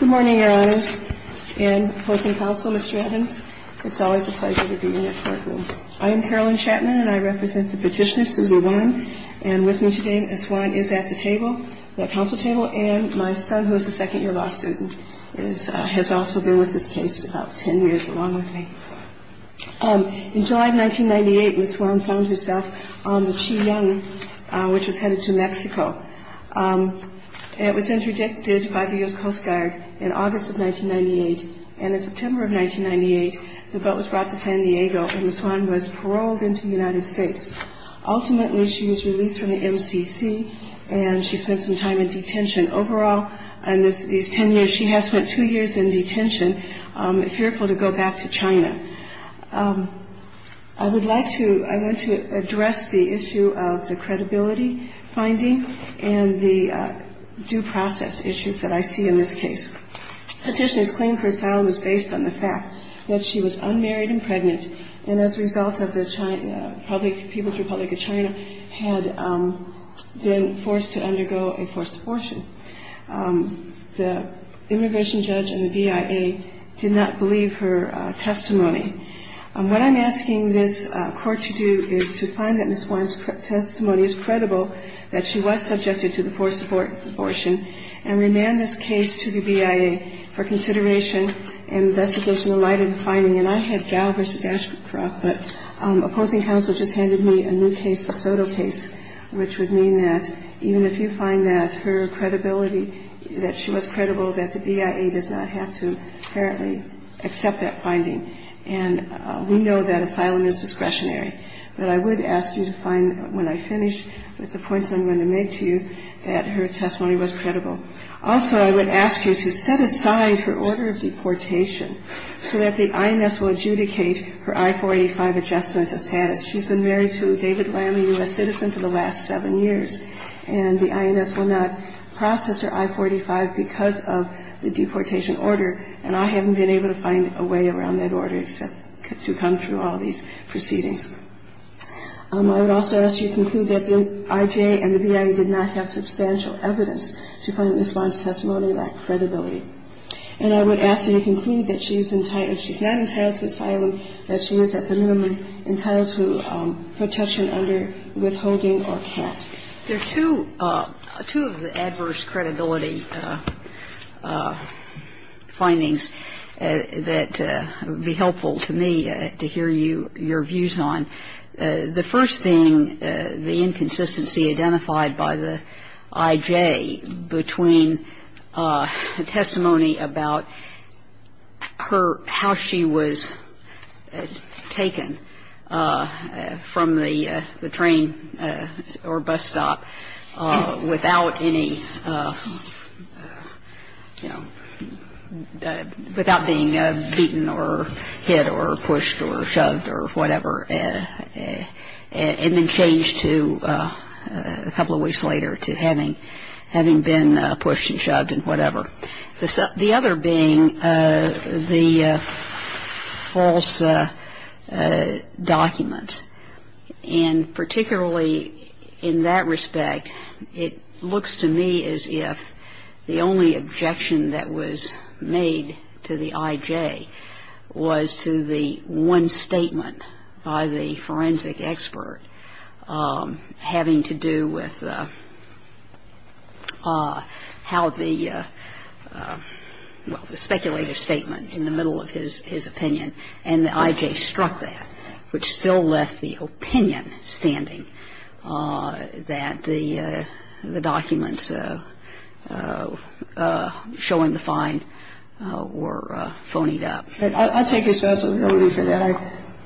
Good morning, Your Honors, and opposing counsel, Mr. Adams. It's always a pleasure to be in your courtroom. I am Carolyn Chapman, and I represent the petitioner, Suze Warren. And with me today, Ms. Warren is at the table, at the counsel table, and my son, who is a second-year law student, has also been with this case about 10 years, along with me. In July of 1998, Ms. Warren found herself on the Chi-Yung, which was headed to Mexico. It was interdicted by the U.S. Coast Guard in August of 1998, and in September of 1998, the boat was brought to San Diego, and the swan was paroled into the United States. Ultimately, she was released from the MCC, and she spent some time in detention. Overall, in these 10 years, she has spent two years in detention, fearful to go back to China. I would like to – I want to address the issue of the credibility finding and the due process issues that I see in this case. Petitioner's claim for asylum is based on the fact that she was unmarried and pregnant, and as a result of the public – People's Republic of China had been forced to undergo a forced abortion. The immigration judge and the BIA did not believe her testimony. What I'm asking this Court to do is to find that Ms. Warren's testimony is credible, that she was subjected to the forced abortion, and remand this case to the BIA for consideration and investigation in light of the finding. And I had Gao v. Ashcroft, but opposing counsel just handed me a new case, the Soto case, which would mean that even if you find that her credibility – that she was credible, that the BIA does not have to apparently accept that finding. And we know that asylum is discretionary. But I would ask you to find, when I finish with the points I'm going to make to you, that her testimony was credible. Also, I would ask you to set aside her order of deportation so that the IMS will adjudicate her I-485 adjustment of status. She's been married to a David Lamb, a U.S. citizen, for the last seven years. And the IMS will not process her I-485 because of the deportation order, and I haven't been able to find a way around that order except to come through all these proceedings. I would also ask you to conclude that the IJA and the BIA did not have substantial evidence to find that Ms. Warren's testimony lacked credibility. And I would ask that you conclude that she's not entitled to asylum, that she is at the minimum entitled to protection under withholding or cast. There are two of the adverse credibility findings that would be helpful to me to hear your views on. The first thing, the inconsistency identified by the IJA between testimony about her how she was taken from the train or bus stop without any, you know, without being beaten or hit or pushed or shoved or whatever, and then changed to a couple of weeks later to having been pushed and shoved and whatever. The other being the false documents. And particularly in that respect, it looks to me as if the only objection that was made to the IJA was to the one statement by the forensic expert having to do with how the, well, the speculative statement in the middle of his opinion, and the IJA struck that, which still left the opinion standing that the documents showing the find were phonied up. But I'll take responsibility for that.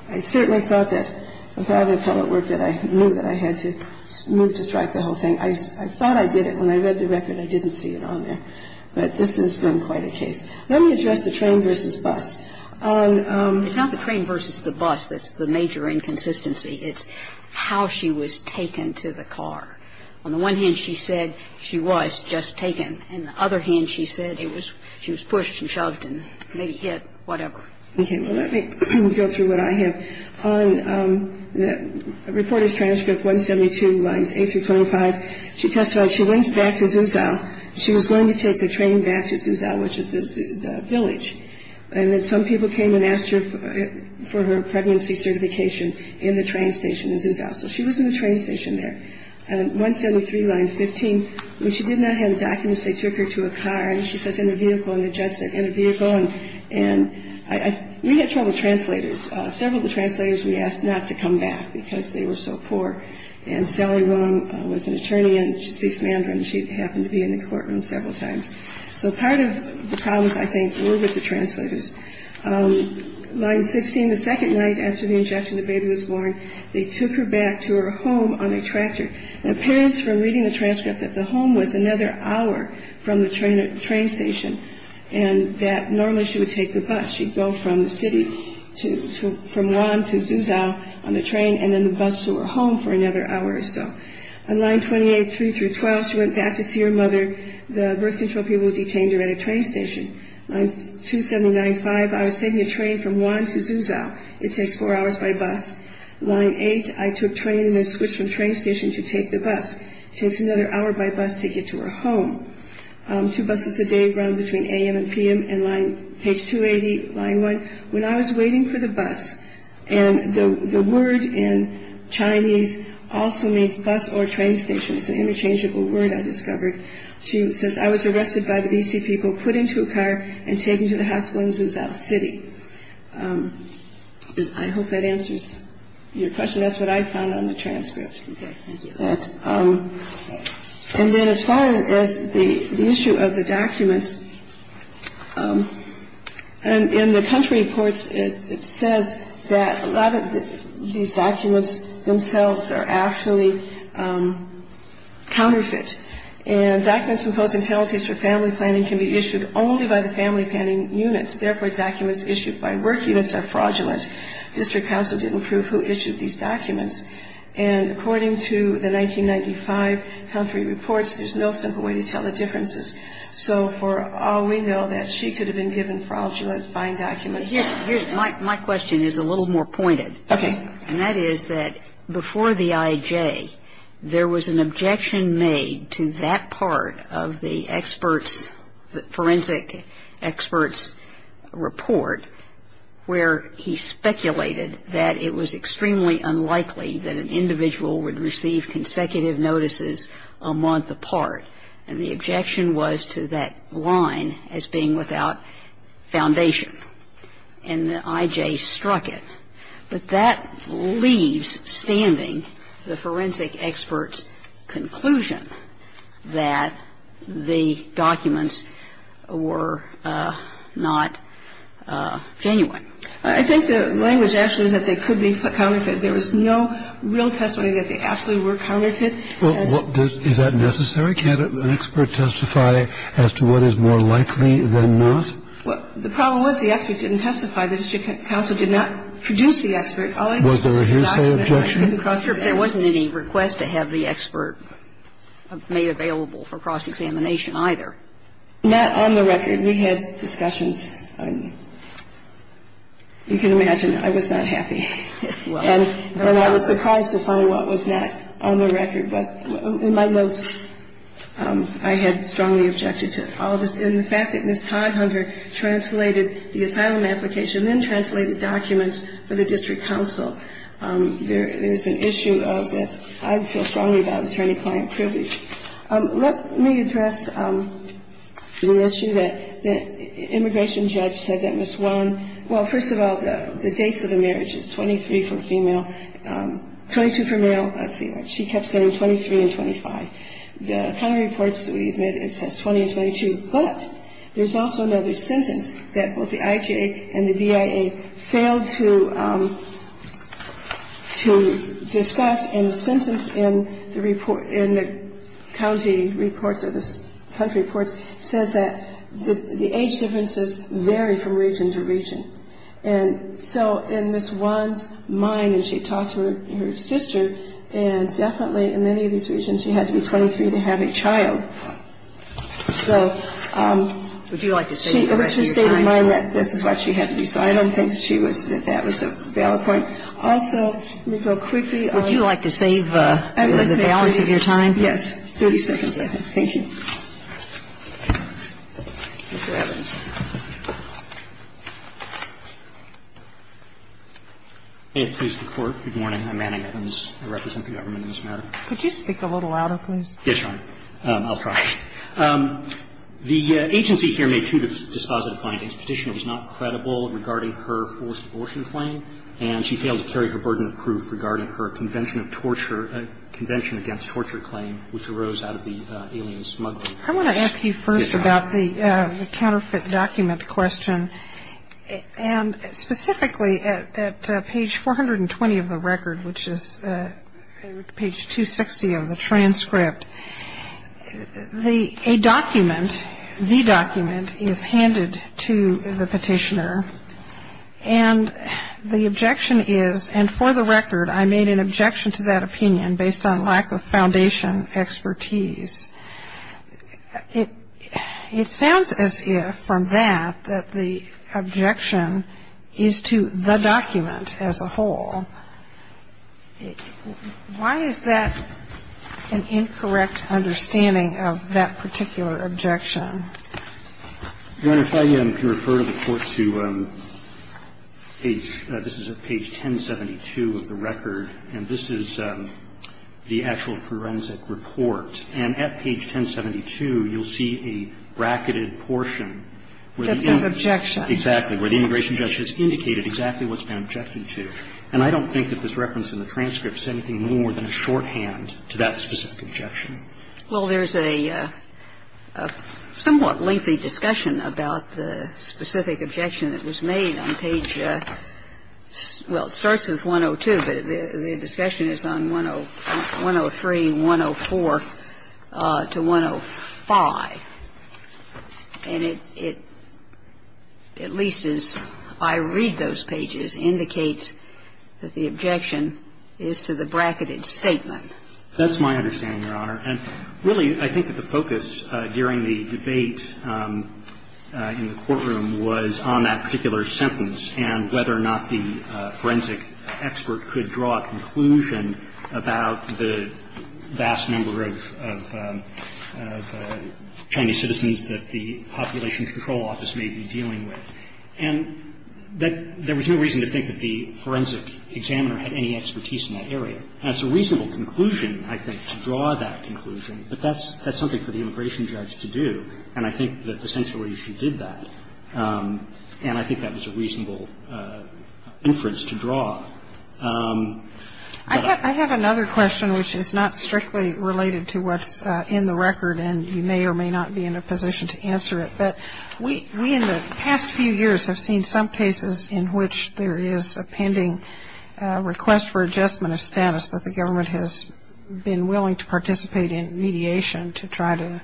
I certainly thought that without the appellate work that I knew that I had to move to strike the whole thing. I thought I did it. When I read the record, I didn't see it on there. But this has been quite a case. Let me address the train versus bus. It's not the train versus the bus that's the major inconsistency. It's how she was taken to the car. On the one hand, she said she was just taken. On the other hand, she said it was she was pushed and shoved and maybe hit, whatever. Okay. Well, let me go through what I have. On the reporter's transcript 172 lines 8 through 25, she testified she went back to Zuzau. She was going to take the train back to Zuzau, which is the village. And then some people came and asked her for her pregnancy certification in the train station in Zuzau. So she was in the train station there. 173 line 15, when she did not have the documents, they took her to a car. And she says, in a vehicle. And the judge said, in a vehicle. And we had trouble with translators. Several of the translators we asked not to come back because they were so poor. And Sally Willam was an attorney. And she speaks Mandarin. She happened to be in the courtroom several times. So part of the problems, I think, were with the translators. Line 16, the second night after the injection, the baby was born. They took her back to her home on a tractor. And it appears from reading the transcript that the home was another hour from the train station. And that normally she would take the bus. She'd go from the city from Juan to Zuzau on the train and then the bus to her home for another hour or so. On line 28, 3 through 12, she went back to see her mother. The birth control people detained her at a train station. Line 279, 5, I was taking a train from Juan to Zuzau. It takes four hours by bus. Line 8, I took train and then switched from train station to take the bus. It takes another hour by bus to get to her home. Two buses a day run between a.m. and p.m. And page 280, line 1, when I was waiting for the bus. And the word in Chinese also means bus or train station. It's an interchangeable word, I discovered. She says, I was arrested by the B.C. people, put into a car, and taken to the hospital in Zuzau City. I hope that answers your question. Okay, thank you. And then as far as the issue of the documents, in the country reports, it says that a lot of these documents themselves are actually counterfeit. And documents imposing penalties for family planning can be issued only by the family planning units. Therefore, documents issued by work units are fraudulent. And according to the 1995 country reports, there's no simple way to tell the differences. So for all we know, that she could have been given fraudulent, fine documents. My question is a little more pointed. Okay. And that is that before the I.J., there was an objection made to that part of the experts, the forensic experts' report, where he speculated that it was extremely unlikely that an individual would receive consecutive notices a month apart. And the objection was to that line as being without foundation. And the I.J. struck it. But that leaves standing the forensic experts' conclusion that the documents were not genuine. I think the language actually is that they could be counterfeit. There was no real testimony that they absolutely were counterfeit. Is that necessary? Can't an expert testify as to what is more likely than not? Well, the problem was the expert didn't testify. The district counsel did not produce the expert. Was there a hearsay objection? There wasn't any request to have the expert made available for cross-examination either. Not on the record. We had discussions. You can imagine I was not happy. And I was surprised to find what was not on the record. But in my notes, I had strongly objected to all of this. And the fact that Ms. Todd-Hunter translated the asylum application, then translated documents for the district counsel, there is an issue of that. I feel strongly about attorney-client privilege. Let me address the issue that the immigration judge said that Ms. Warren Well, first of all, the dates of the marriage is 23 for female, 22 for male. Let's see. She kept saying 23 and 25. The county reports that we've made, it says 20 and 22. But there's also another sentence that both the IJA and the BIA failed to discuss. And the sentence in the report, in the county reports or the country reports, says that the age differences vary from region to region. And so in Ms. Warren's mind, and she talked to her sister, she had to be 23 to have a child. So she always stayed in mind that this is what she had to do. So I don't think that that was a valid point. Also, let me go quickly on the balance of your time. Yes. 30 seconds left. Mr. Evans. Evans. Good morning. I'm Manning Evans. I represent the government in this matter. Could you speak a little louder, please? Yes, Your Honor. I'll try. The agency here made two dispositive findings. Petitioner was not credible regarding her forced abortion claim, and she failed to carry her burden of proof regarding her Convention of Torture, Convention Against Torture claim, which arose out of the alien smuggling. I want to ask you first about the counterfeit document question. And specifically at page 420 of the record, which is page 260 of the transcript, a document, the document, is handed to the petitioner, and the objection is, and for the record I made an objection to that opinion based on lack of foundation expertise. It sounds as if, from that, that the objection is to the document as a whole. Why is that an incorrect understanding of that particular objection? Your Honor, if I can refer the Court to page, this is page 1072 of the record, and this is the actual forensic report. And at page 1072, you'll see a bracketed portion. That's an objection. Exactly, where the immigration judge has indicated exactly what's been objected to. And I don't think that this reference in the transcript is anything more than a shorthand to that specific objection. Well, there's a somewhat lengthy discussion about the specific objection that was made on page, well, it starts with 102, but the discussion is on 103, 104 to 105. And it at least as I read those pages indicates that the objection is to the bracketed statement. That's my understanding, Your Honor. And really, I think that the focus during the debate in the courtroom was on that particular sentence and whether or not the forensic expert could draw a conclusion about the vast number of Chinese citizens that the Population Control Office may be dealing with. And there was no reason to think that the forensic examiner had any expertise in that area. And it's a reasonable conclusion, I think, to draw that conclusion, but that's something for the immigration judge to do. And I think that essentially she did that. And I think that was a reasonable inference to draw. I have another question which is not strictly related to what's in the record, and you may or may not be in a position to answer it. But we in the past few years have seen some cases in which there is a pending request for adjustment of status that the government has been willing to participate in mediation to try to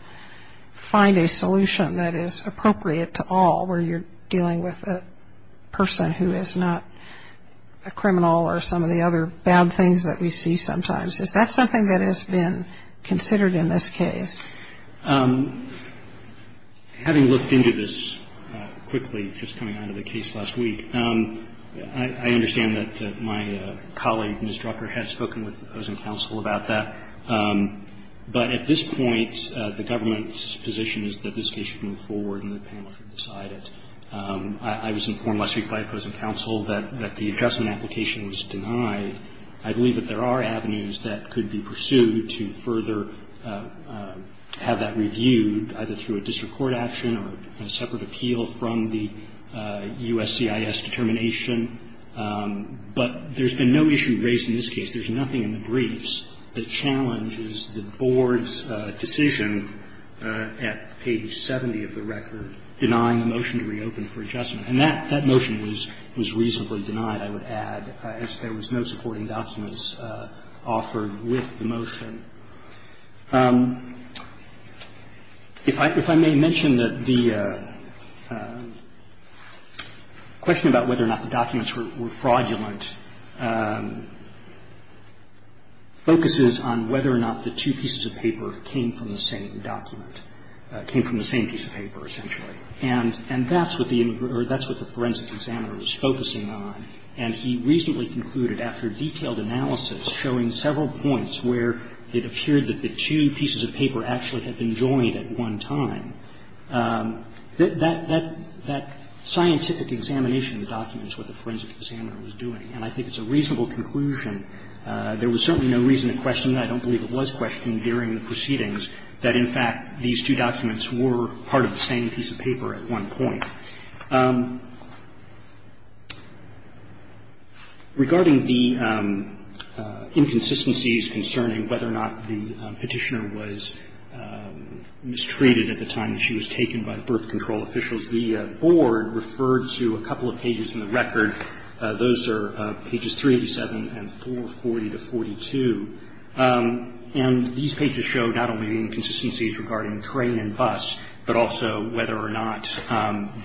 find a solution that is appropriate to all where you're dealing with a person who is not a criminal or some of the other bad things that we see sometimes. Is that something that has been considered in this case? Having looked into this quickly just coming out of the case last week, I understand that my colleague, Ms. Drucker, has spoken with those in counsel about that. But at this point, the government's position is that this case should move forward and the panel should decide it. I was informed last week by a person in counsel that the adjustment application was denied. I believe that there are avenues that could be pursued to further have that reviewed, either through a district court action or a separate appeal from the USCIS determination. But there's been no issue raised in this case. There's nothing in the briefs that challenges the board's decision at page 70 of the record denying the motion to reopen for adjustment. And that motion was reasonably denied, I would add, as there was no supporting documents offered with the motion. If I may mention that the question about whether or not the documents were fraudulent focuses on whether or not the two pieces of paper came from the same document came from the same piece of paper, essentially. And that's what the forensic examiner was focusing on. And he reasonably concluded, after detailed analysis showing several points where it appeared that the two pieces of paper actually had been joined at one time, that scientific examination of the documents was what the forensic examiner was doing. And I think it's a reasonable conclusion. There was certainly no reason to question that. I don't believe it was questioned during the proceedings that, in fact, these two documents were part of the same piece of paper at one point. Regarding the inconsistencies concerning whether or not the Petitioner was mistreated at the time that she was taken by the birth control officials, the board referred to a couple of pages in the record. Those are pages 387 and 440 to 42. And these pages show not only inconsistencies regarding train and bus, but also whether or not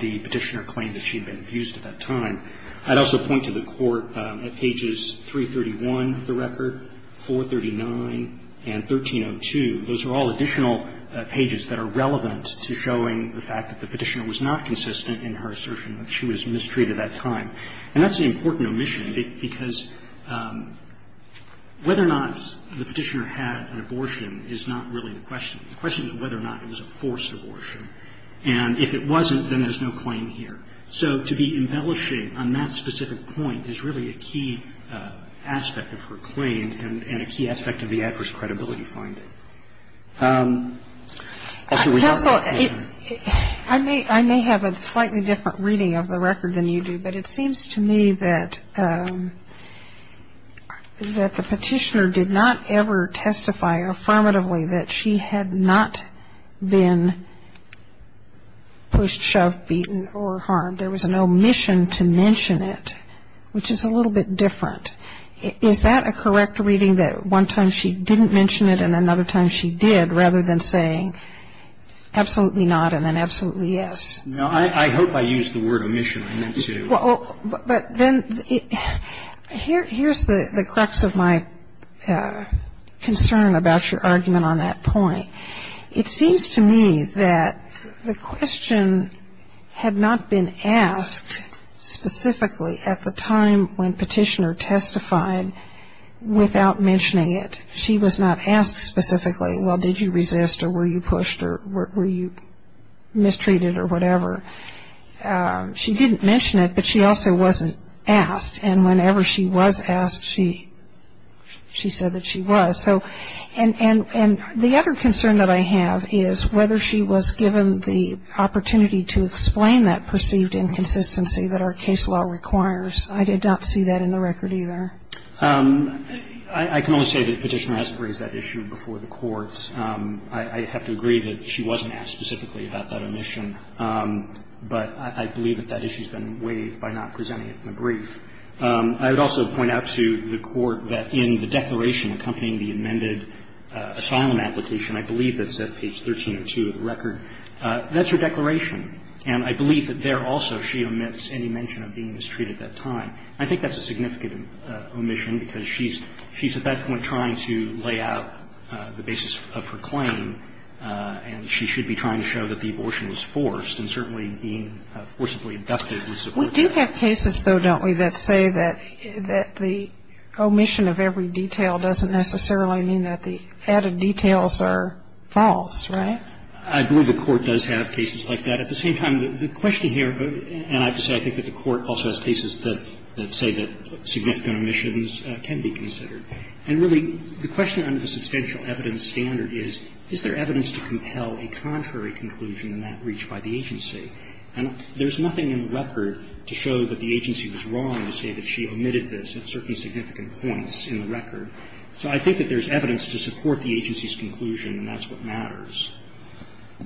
the Petitioner claimed that she had been abused at that time. I'd also point to the court at pages 331 of the record, 439, and 1302. Those are all additional pages that are relevant to showing the fact that the Petitioner was not consistent in her assertion that she was mistreated at that time. And that's an important omission, because whether or not the Petitioner had an abortion is not really the question. The question is whether or not it was a forced abortion. And if it wasn't, then there's no claim here. So to be embellishing on that specific point is really a key aspect of her claim and a key aspect of the adverse credibility finding. Sotomayor. I may have a slightly different reading of the record than you do, but it seems to me that the Petitioner did not ever testify affirmatively that she had not been pushed, shoved, beaten, or harmed. There was an omission to mention it, which is a little bit different. Is that a correct reading, that one time she didn't mention it and another time she did rather than saying absolutely not and then absolutely yes? No. I hope I used the word omission on that, too. Well, but then here's the crux of my concern about your argument on that point. It seems to me that the question had not been asked specifically at the time when Petitioner testified without mentioning it. She was not asked specifically, well, did you resist or were you pushed or were you mistreated or whatever? She didn't mention it, but she also wasn't asked. And whenever she was asked, she said that she was. So and the other concern that I have is whether she was given the opportunity to explain that perceived inconsistency that our case law requires. I did not see that in the record either. I can only say that Petitioner has raised that issue before the Court. I have to agree that she wasn't asked specifically about that omission. But I believe that that issue has been waived by not presenting it in the brief. I would also point out to the Court that in the declaration accompanying the amended asylum application, I believe that's at page 1302 of the record, that's her declaration. And I believe that there also she omits any mention of being mistreated at that time. I think that's a significant omission, because she's at that point trying to lay out the basis of her claim, and she should be trying to show that the abortion was forced and certainly being forcibly abducted was a part of that. We do have cases, though, don't we, that say that the omission of every detail doesn't necessarily mean that the added details are false, right? I believe the Court does have cases like that. At the same time, the question here, and I have to say I think that the Court also has cases that say that significant omissions can be considered. And really, the question under the substantial evidence standard is, is there evidence to compel a contrary conclusion in that reach by the agency? And there's nothing in the record to show that the agency was wrong to say that she omitted this at certain significant points in the record. So I think that there's evidence to support the agency's conclusion, and that's what matters.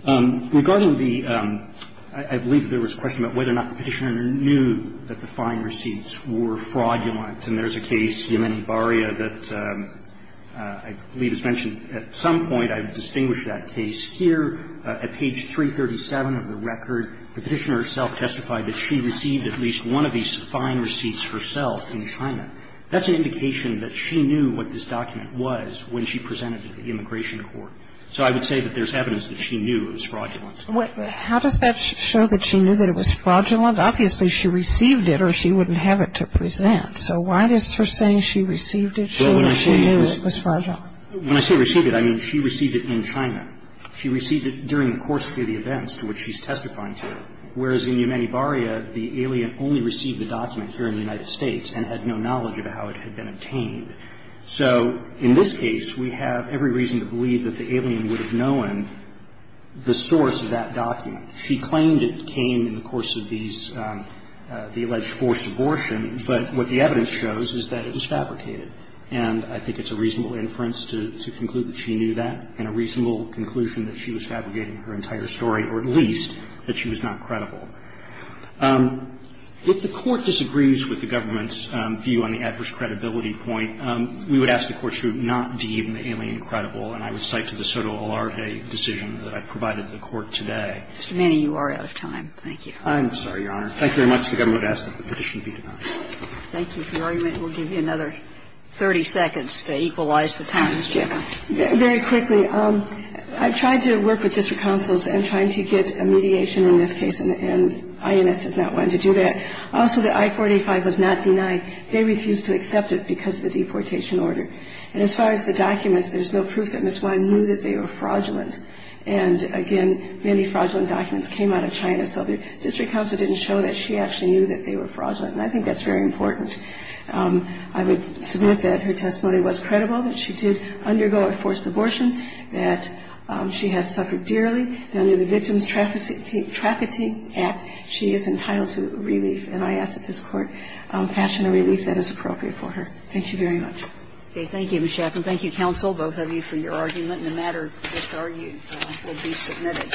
Regarding the – I believe there was a question about whether or not the Petitioner knew that the fine receipts were fraudulent. And there's a case, Yemeni Baria, that I believe is mentioned at some point. I've distinguished that case here. At page 337 of the record, the Petitioner herself testified that she received at least one of these fine receipts herself in China. That's an indication that she knew what this document was when she presented it to the Immigration Court. So I would say that there's evidence that she knew it was fraudulent. How does that show that she knew that it was fraudulent? Obviously, she received it or she wouldn't have it to present. So why does her saying she received it show that she knew it was fraudulent? When I say received it, I mean she received it in China. She received it during the course of the events to which she's testifying to. Whereas in Yemeni Baria, the alien only received the document here in the United States and had no knowledge of how it had been obtained. So in this case, we have every reason to believe that the alien would have known the source of that document. She claimed it came in the course of these, the alleged forced abortion, but what the evidence shows is that it was fabricated. And I think it's a reasonable inference to conclude that she knew that and a reasonable conclusion that she was fabricating her entire story, or at least that she was not credible. If the Court disagrees with the government's view on the adverse credibility point, we would ask the Court to not deem the alien credible. And I would cite to the Sotomayor decision that I provided to the Court today. Mr. Manning, you are out of time. Thank you. I'm sorry, Your Honor. Thank you very much. The government would ask that the petition be denied. Thank you. If you argue it, we'll give you another 30 seconds to equalize the time. Very quickly, I've tried to work with district councils in trying to get a mediation in this case, and INS has not wanted to do that. Also, the I-485 was not denied. They refused to accept it because of the deportation order. And as far as the documents, there's no proof that Ms. Wein knew that they were fraudulent. And, again, many fraudulent documents came out of China, so the district council didn't show that she actually knew that they were fraudulent. And I think that's very important. I would submit that her testimony was credible, that she did undergo a forced abortion, that she has suffered dearly, and under the Victims Trafficking Act, she is entitled to relief. And I ask that this Court fashion a relief that is appropriate for her. Thank you very much. Okay. Thank you, Ms. Schaffer. And thank you, counsel, both of you, for your argument. And the matter, as argued, will be submitted.